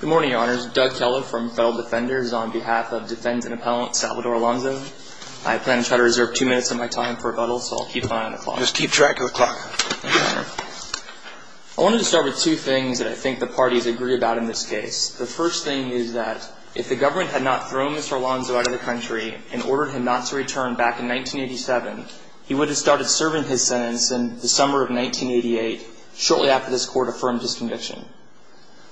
Good morning, Your Honors. Doug Keller from Federal Defenders on behalf of Defendant Appellant Salvador Alonso. I plan to try to reserve two minutes of my time for rebuttal, so I'll keep an eye on the clock. Just keep track of the clock. I wanted to start with two things that I think the parties agree about in this case. The first thing is that if the government had not thrown Mr. Alonso out of the country and ordered him not to return back in 1987, he would have started serving his sentence in the summer of 1988, shortly after this Court affirmed his conviction.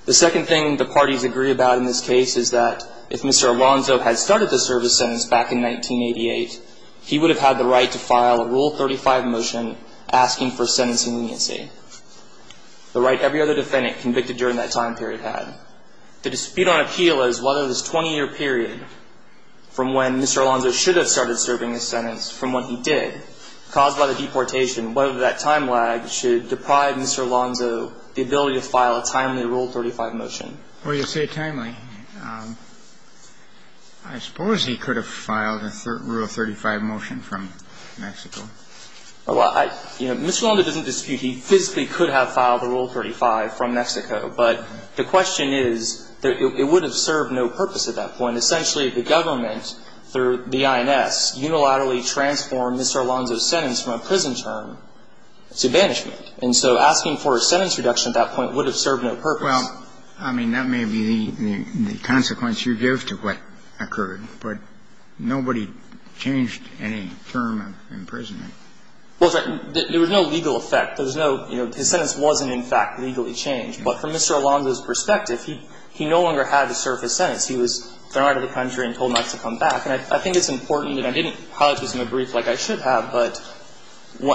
The second thing the parties agree about in this case is that if Mr. Alonso had started to serve his sentence back in 1988, he would have had the right to file a Rule 35 motion asking for sentencing leniency, the right every other defendant convicted during that time period had. The dispute on appeal is whether this 20-year period from when Mr. Alonso should have started serving his sentence, from when he did, caused by the deportation, whether that time lag should deprive Mr. Alonso of the ability to file a timely Rule 35 motion. Well, you say timely. I suppose he could have filed a Rule 35 motion from Mexico. Well, you know, Mr. Alonso doesn't dispute he physically could have filed a Rule 35 from Mexico, but the question is it would have served no purpose at that point. Essentially, the government, through the INS, unilaterally transformed Mr. Alonso's sentence from a prison term to banishment. And so asking for a sentence reduction at that point would have served no purpose. Well, I mean, that may be the consequence you give to what occurred. But nobody changed any term of imprisonment. Well, there was no legal effect. There was no, you know, his sentence wasn't, in fact, legally changed. But from Mr. Alonso's perspective, he no longer had to serve his sentence. He was thrown out of the country and told not to come back. And I think it's important, and I didn't highlight this in my brief like I should have, but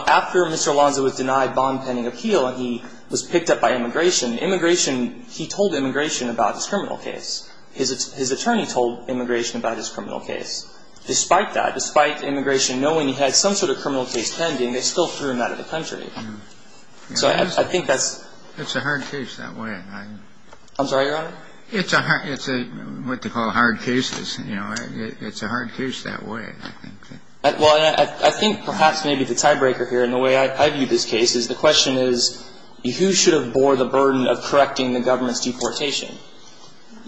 after Mr. Alonso was denied bond-pending appeal and he was picked up by immigration, immigration, he told immigration about his criminal case. His attorney told immigration about his criminal case. Despite that, despite immigration knowing he had some sort of criminal case pending, they still threw him out of the country. So I think that's — It's a hard case that way. I'm sorry, Your Honor? It's a hard — it's what they call hard cases. You know, it's a hard case that way, I think. Well, and I think perhaps maybe the tiebreaker here in the way I view this case is the question is, who should have bore the burden of correcting the government's deportation?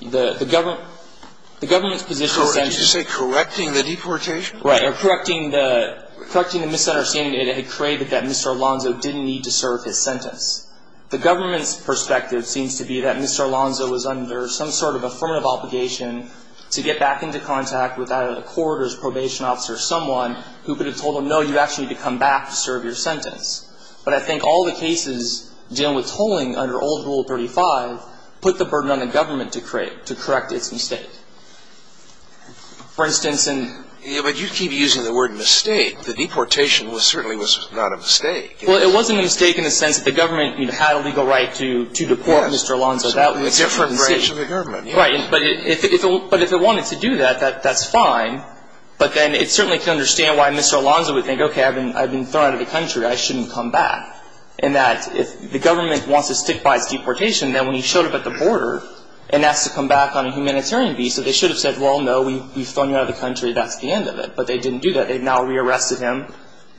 The government — the government's position — So did you say correcting the deportation? Right. Or correcting the — correcting the misunderstanding that it had created that Mr. Alonso didn't need to serve his sentence. The government's perspective seems to be that Mr. Alonso was under some sort of affirmative obligation to get back into contact with out-of-the-corridors probation officer, someone who could have told him, no, you actually need to come back to serve your sentence. But I think all the cases dealing with tolling under old Rule 35 put the burden on the government to correct its mistake. For instance, in — Yeah, but you keep using the word mistake. The deportation was — certainly was not a mistake. Well, it wasn't a mistake in the sense that the government, you know, had a legal right to deport Mr. Alonso. Yes. Right. But if it wanted to do that, that's fine. But then it certainly can understand why Mr. Alonso would think, okay, I've been thrown out of the country, I shouldn't come back. And that if the government wants to stick by its deportation, then when he showed up at the border and asked to come back on a humanitarian visa, they should have said, well, no, we've thrown you out of the country, that's the end of it. But they didn't do that. They've now rearrested him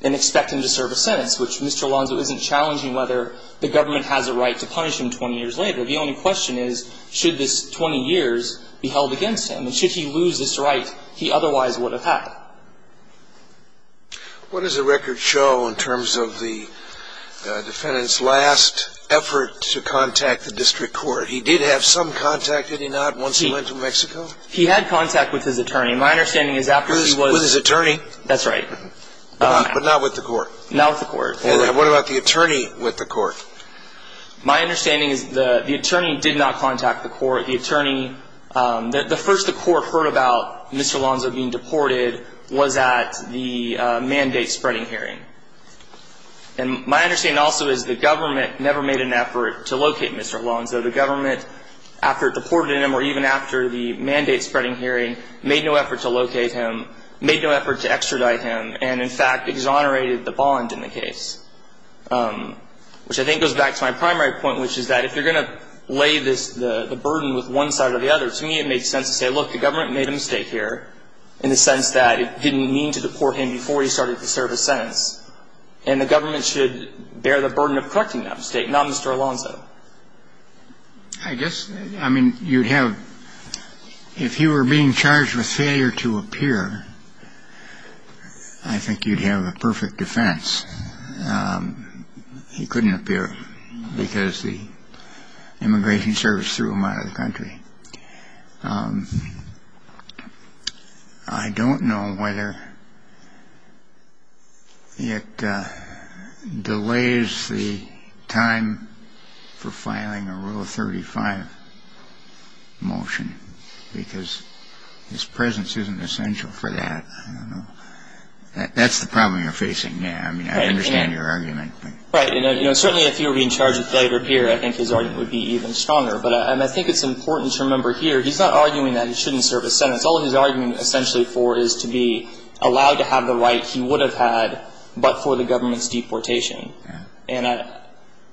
and expect him to serve a sentence, which Mr. Alonso isn't challenging whether the government has a right to punish him 20 years later. The only question is, should this 20 years be held against him? And should he lose this right he otherwise would have had? What does the record show in terms of the defendant's last effort to contact the district court? He did have some contact, did he not, once he went to Mexico? He had contact with his attorney. My understanding is after he was — With his attorney? That's right. But not with the court. Not with the court. And what about the attorney with the court? My understanding is the attorney did not contact the court. The attorney — the first the court heard about Mr. Alonso being deported was at the mandate-spreading hearing. And my understanding also is the government never made an effort to locate Mr. Alonso. The government, after it deported him or even after the mandate-spreading hearing, made no effort to locate him, made no effort to extradite him, and, in fact, exonerated the bond in the case, which I think goes back to my primary point, which is that if you're going to lay this — the burden with one side or the other, to me it made sense to say, look, the government made a mistake here, in the sense that it didn't mean to deport him before he started to serve his sentence. And the government should bear the burden of correcting that mistake, not Mr. Alonso. I guess — I mean, you'd have — if you were being charged with failure to appear, I think you'd have a perfect defense. He couldn't appear because the immigration service threw him out of the country. I don't know whether it delays the time for filing a Rule 35 motion, because his presence isn't essential for that. I don't know. That's the problem you're facing now. I mean, I understand your argument. Right. And, you know, certainly if you were being charged with failure to appear, I think his argument would be even stronger. But I think it's important to remember here, he's not arguing that he shouldn't serve his sentence. All he's arguing essentially for is to be allowed to have the right he would have had, but for the government's deportation. And,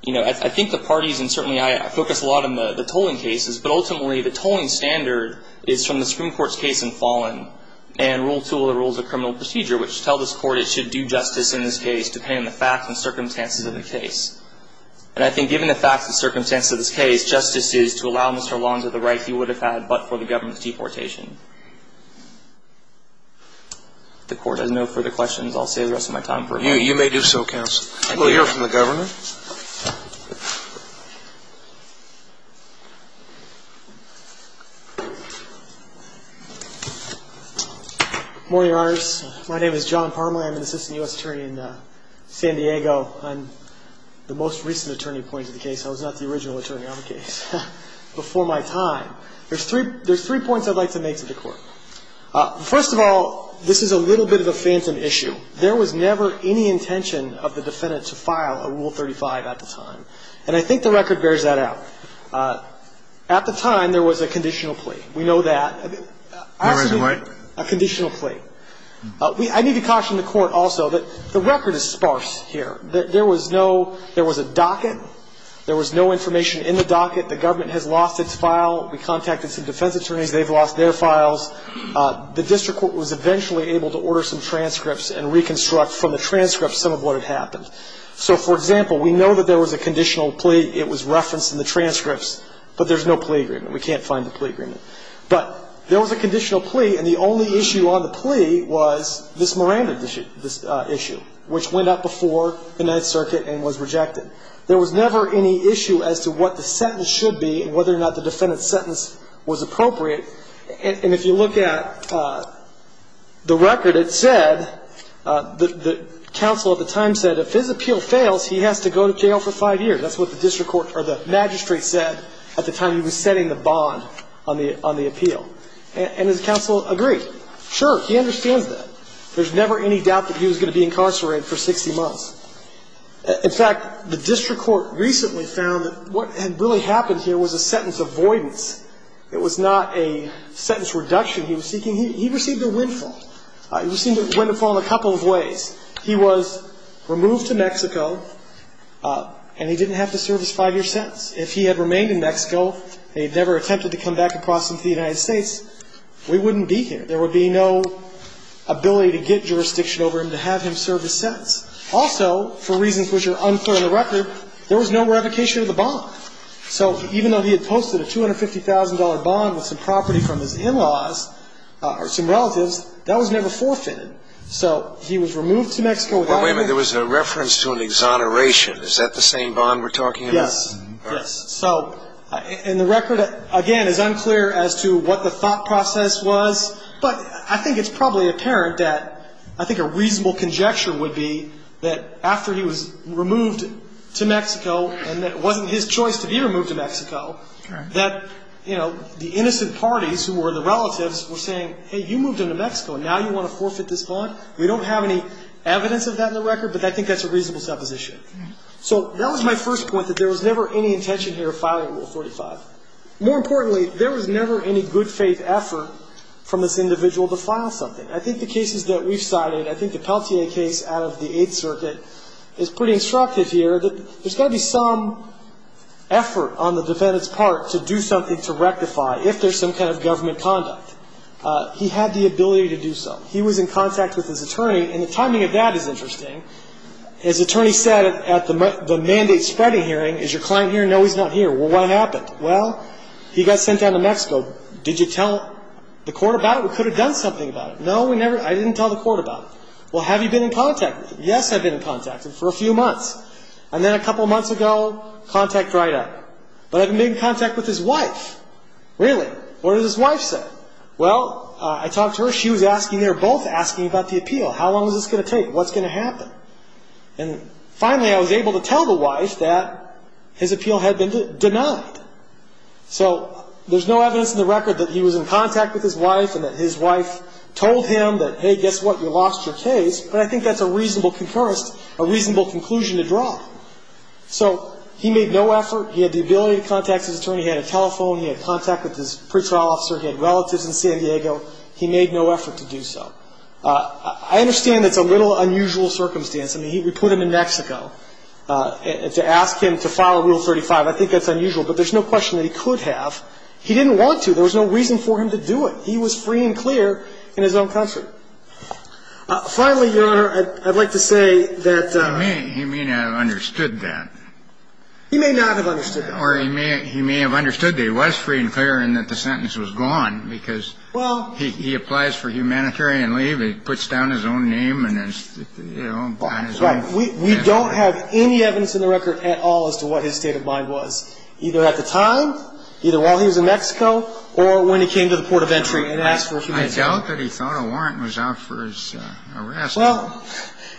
you know, I think the parties, and certainly I focus a lot on the tolling cases, but ultimately the tolling standard is from the Supreme Court's case in Fallon and Rule 2 of the Rules of Criminal Procedure, which tell this Court it should do justice in this case depending on the facts and circumstances of the case. And I think given the facts and circumstances of this case, justice is to allow Mr. Long to have the right he would have had, but for the government's deportation. If the Court has no further questions, I'll save the rest of my time for a moment. You may do so, counsel. We'll hear from the Governor. Good morning, Your Honors. My name is John Parma. I'm an assistant U.S. attorney in San Diego. I'm the most recent attorney appointed to the case. I was not the original attorney on the case before my time. There's three points I'd like to make to the Court. First of all, this is a little bit of a phantom issue. There was never any intention of the defendant to file a Rule 35 at the time, and I think the record bears that out. At the time, there was a conditional plea. We know that. A conditional plea. I need to caution the Court also that the record is sparse here. There was no ñ there was a docket. There was no information in the docket. The government has lost its file. We contacted some defense attorneys. They've lost their files. The district court was eventually able to order some transcripts and reconstruct from the transcripts some of what had happened. So, for example, we know that there was a conditional plea. It was referenced in the transcripts, but there's no plea agreement. We can't find the plea agreement. But there was a conditional plea, and the only issue on the plea was this Miranda issue, which went out before the Ninth Circuit and was rejected. There was never any issue as to what the sentence should be and whether or not the defendant's sentence was appropriate. And if you look at the record, it said, the counsel at the time said, if his appeal fails, he has to go to jail for five years. That's what the magistrate said at the time he was setting the bond on the appeal, and his counsel agreed. Sure, he understands that. There's never any doubt that he was going to be incarcerated for 60 months. In fact, the district court recently found that what had really happened here was a sentence avoidance. It was not a sentence reduction he was seeking. He received a windfall. He received a windfall in a couple of ways. He was removed to Mexico, and he didn't have to serve his five-year sentence. If he had remained in Mexico and he had never attempted to come back and cross into the United States, we wouldn't be here. There would be no ability to get jurisdiction over him to have him serve his sentence. Also, for reasons which are unclear in the record, there was no revocation of the bond. So even though he had posted a $250,000 bond with some property from his in-laws or some relatives, that was never forfeited. So he was removed to Mexico. But wait a minute. There was a reference to an exoneration. Is that the same bond we're talking about? Yes. Yes. So in the record, again, it's unclear as to what the thought process was. But I think it's probably apparent that I think a reasonable conjecture would be that after he was removed to Mexico and that it wasn't his choice to be removed to Mexico, that, you know, the innocent parties who were the relatives were saying, hey, you moved him to Mexico and now you want to forfeit this bond? We don't have any evidence of that in the record, but I think that's a reasonable supposition. So that was my first point, that there was never any intention here of filing Rule 45. More importantly, there was never any good faith effort from this individual to file something. I think the cases that we've cited, I think the Peltier case out of the Eighth Circuit, is pretty instructive here that there's got to be some effort on the defendant's part to do something to rectify if there's some kind of government conduct. He had the ability to do so. He was in contact with his attorney, and the timing of that is interesting. His attorney said at the mandate spreading hearing, is your client here? No, he's not here. Well, what happened? Well, he got sent down to Mexico. Did you tell the court about it? We could have done something about it. No, I didn't tell the court about it. Well, have you been in contact with him? Yes, I've been in contact with him for a few months. And then a couple of months ago, contact dried up. But I've been in contact with his wife. Really? What did his wife say? Well, I talked to her. She was asking, they were both asking about the appeal. How long is this going to take? What's going to happen? And finally, I was able to tell the wife that his appeal had been denied. So there's no evidence in the record that he was in contact with his wife and that his wife told him that, hey, guess what, you lost your case. But I think that's a reasonable conclusion to draw. So he made no effort. He had the ability to contact his attorney. He had a telephone. He had contact with his pretrial officer. He had relatives in San Diego. He made no effort to do so. I understand that's a little unusual circumstance. I mean, we put him in Mexico to ask him to file Rule 35. I think that's unusual. But there's no question that he could have. He didn't want to. There was no reason for him to do it. He was free and clear in his own country. Finally, Your Honor, I'd like to say that the ---- He may not have understood that. He may not have understood that. Or he may have understood that he was free and clear and that the sentence was gone because he applies for humanitarian leave and puts down his own name and, you know, we don't have any evidence in the record at all as to what his state of mind was, either at the time, either while he was in Mexico, or when he came to the port of entry and asked for humanitarian leave. I doubt that he thought a warrant was out for his arrest. Well,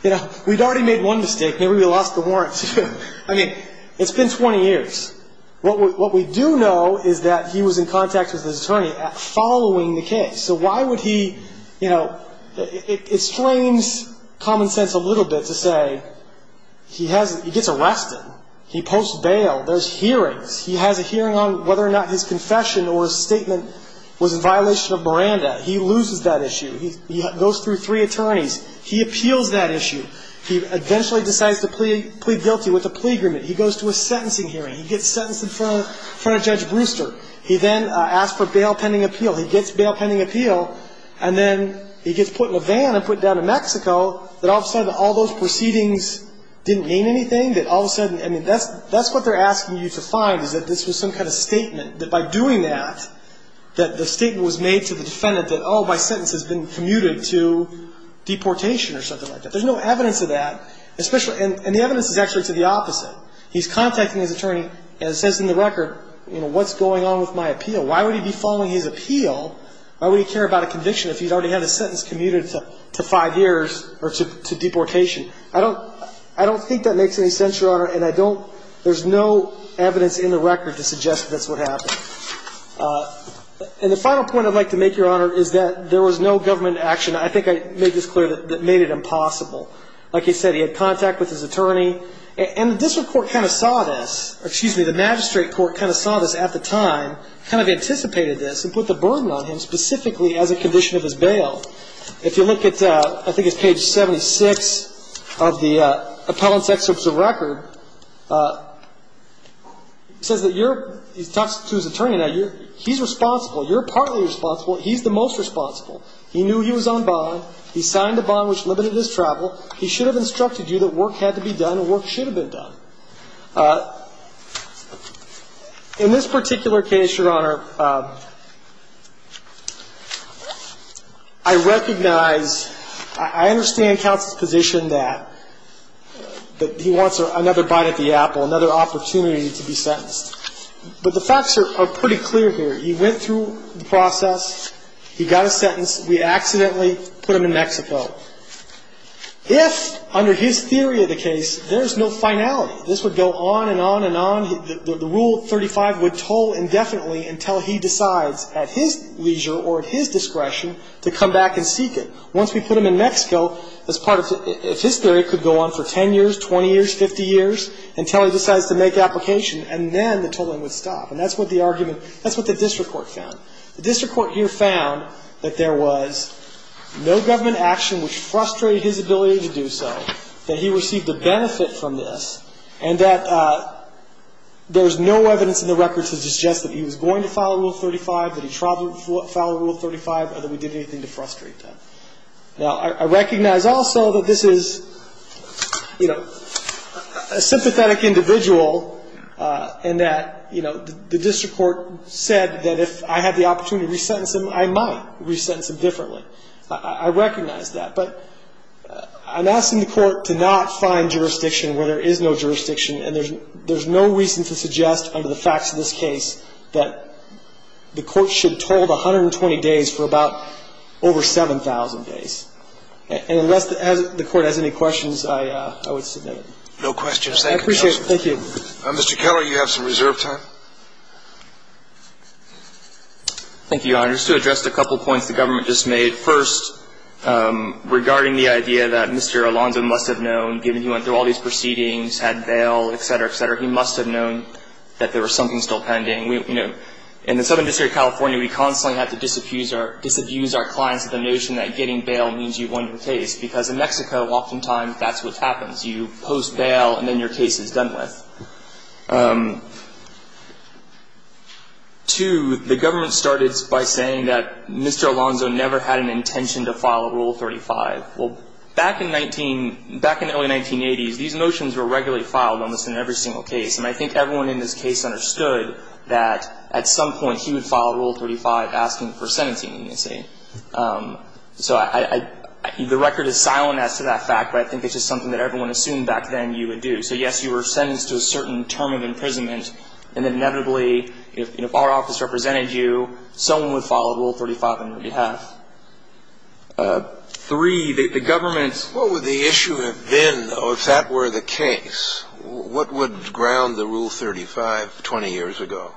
you know, we'd already made one mistake. Maybe we lost the warrant, too. I mean, it's been 20 years. What we do know is that he was in contact with his attorney following the case. So why would he, you know, it strains common sense a little bit to say he gets arrested. He posts bail. There's hearings. He has a hearing on whether or not his confession or his statement was in violation of Miranda. He loses that issue. He goes through three attorneys. He appeals that issue. He eventually decides to plead guilty with a plea agreement. He goes to a sentencing hearing. He gets sentenced in front of Judge Brewster. He then asks for bail pending appeal. He gets bail pending appeal, and then he gets put in a van and put down in Mexico, that all of a sudden all those proceedings didn't mean anything, that all of a sudden, I mean, that's what they're asking you to find is that this was some kind of statement, that by doing that, that the statement was made to the defendant that, oh, my sentence has been commuted to deportation or something like that. There's no evidence of that, and the evidence is actually to the opposite. He's contacting his attorney and says in the record, you know, what's going on with my appeal? Why would he be following his appeal? Why would he care about a conviction if he'd already had his sentence commuted to five years or to deportation? I don't think that makes any sense, Your Honor, and I don't ‑‑ there's no evidence in the record to suggest that that's what happened. And the final point I'd like to make, Your Honor, is that there was no government action, I think I made this clear, that made it impossible. Like I said, he had contact with his attorney, and the district court kind of saw this, or excuse me, the magistrate court kind of saw this at the time, kind of anticipated this and put the burden on him specifically as a condition of his bail. If you look at, I think it's page 76 of the appellant's excerpts of record, it says that you're, he talks to his attorney now, he's responsible, you're partly responsible, he's the most responsible. He knew he was on bond, he signed a bond which limited his travel, he should have instructed you that work had to be done and work should have been done. In this particular case, Your Honor, I recognize, I understand counsel's position that he wants another bite at the apple, another opportunity to be sentenced. But the facts are pretty clear here. He went through the process, he got a sentence, we accidentally put him in Mexico. If, under his theory of the case, there's no finality, this would go on and on and on, the Rule 35 would toll indefinitely until he decides at his leisure or at his discretion to come back and seek it. Once we put him in Mexico, as part of, if his theory could go on for 10 years, 20 years, 50 years, until he decides to make application, and then the tolling would stop. And that's what the argument, that's what the district court found. The district court here found that there was no government action which frustrated his ability to do so, that he received a benefit from this, and that there's no evidence in the record to suggest that he was going to file a Rule 35, that he traveled to file a Rule 35, or that we did anything to frustrate them. Now, I recognize also that this is, you know, a sympathetic individual, and that, you know, the district court said that if I had the opportunity to resentence him, I might resentence him differently. I recognize that. But I'm asking the court to not find jurisdiction where there is no jurisdiction, and there's no reason to suggest, under the facts of this case, that the court should toll 120 days for about over 7,000 days. And unless the court has any questions, I would submit. No questions. Thank you, counsel. I appreciate it. Thank you. Mr. Keller, you have some reserve time. Thank you, Your Honor. Just to address a couple of points the government just made. First, regarding the idea that Mr. Alonzo must have known, given he went through all these proceedings, had bail, et cetera, et cetera, he must have known that there was something still pending. You know, in the Southern District of California, we constantly have to disabuse our clients of the notion that getting bail means you've won your case, because in Mexico, oftentimes, that's what happens. You post bail, and then your case is done with. Two, the government started by saying that Mr. Alonzo never had an intention to file Rule 35. Well, back in 19 — back in the early 1980s, these notions were regularly filed almost in every single case. And I think everyone in this case understood that at some point he would file Rule 35 asking for sentencing, they say. So I — the record is silent as to that fact, but I think it's just something that everyone assumed back then you would do. So, yes, you were sentenced to a certain term of imprisonment, and inevitably, if our office represented you, someone would file Rule 35 on your behalf. Three, the government's — What would the issue have been, though, if that were the case? What would ground the Rule 35 20 years ago?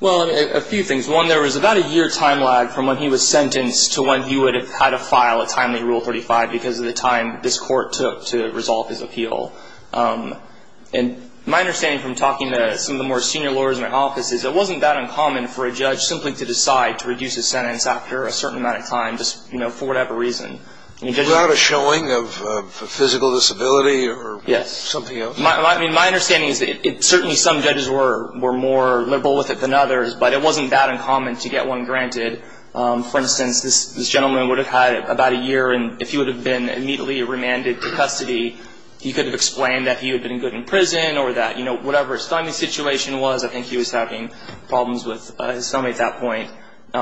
Well, a few things. One, there was about a year time lag from when he was sentenced to when he would have had to file a timely Rule 35 because of the time this court took to resolve his appeal. And my understanding from talking to some of the more senior lawyers in my office is it wasn't that uncommon for a judge simply to decide to reduce his sentence after a certain amount of time, just, you know, for whatever reason. Without a showing of a physical disability or something else? Yes. I mean, my understanding is that certainly some judges were more liberal with it than others, but it wasn't that uncommon to get one granted. For instance, this gentleman would have had about a year, and if he would have been immediately remanded to custody, he could have explained that he had been good in prison or that, you know, whatever his timing situation was, I think he was having problems with his stomach at that point.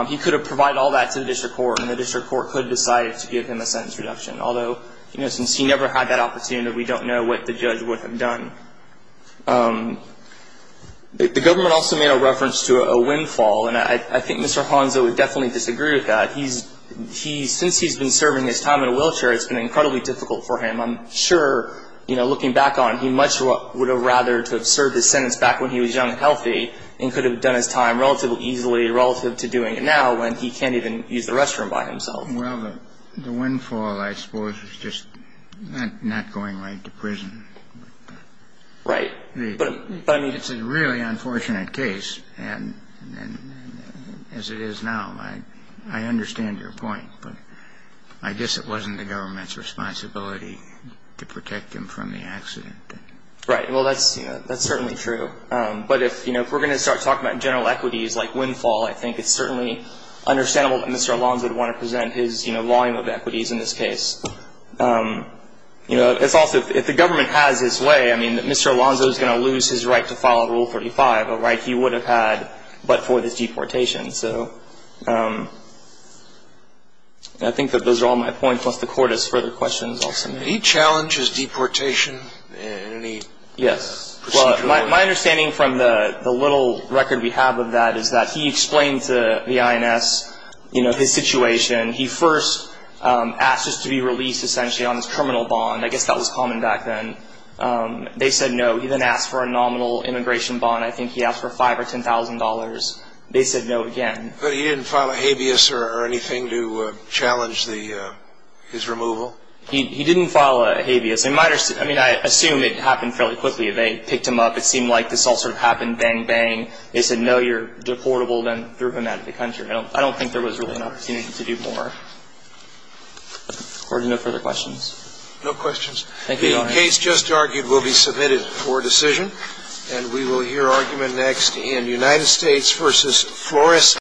He could have provided all that to the district court, and the district court could have decided to give him a sentence reduction. Although, you know, since he never had that opportunity, we don't know what the judge would have done. The government also made a reference to a windfall. And I think Mr. Honza would definitely disagree with that. He's he's since he's been serving his time in a wheelchair, it's been incredibly difficult for him. I'm sure, you know, looking back on it, he much would have rather to have served his sentence back when he was young and healthy and could have done his time relatively easily relative to doing it now when he can't even use the restroom by himself. Well, the windfall, I suppose, is just not going right to prison. Right. But I mean, it's a really unfortunate case. And as it is now, I understand your point. But I guess it wasn't the government's responsibility to protect him from the accident. Right. Well, that's certainly true. But if, you know, if we're going to start talking about general equities like windfall, I think it's certainly understandable that Mr. Alonzo would want to present his, you know, volume of equities in this case. You know, it's also if the government has its way, I mean, that Mr. Alonzo is going to lose his right to file Rule 35, a right he would have had but for this deportation. So I think that those are all my points. Unless the Court has further questions, I'll submit. Did he challenge his deportation in any procedure? Yes. My understanding from the little record we have of that is that he explained to the INS, you know, his situation. He first asked us to be released essentially on his criminal bond. I guess that was common back then. They said no. He then asked for a nominal immigration bond. I think he asked for $5,000 or $10,000. They said no again. But he didn't file a habeas or anything to challenge his removal? He didn't file a habeas. I mean, I assume it happened fairly quickly. They picked him up. It seemed like this all sort of happened, bang, bang. They said no, you're deportable. Then threw him out of the country. I don't think there was really an opportunity to do more. Court, no further questions? No questions. Thank you, Your Honor. The case just argued will be submitted for decision. And we will hear argument next in United States v. Floresta.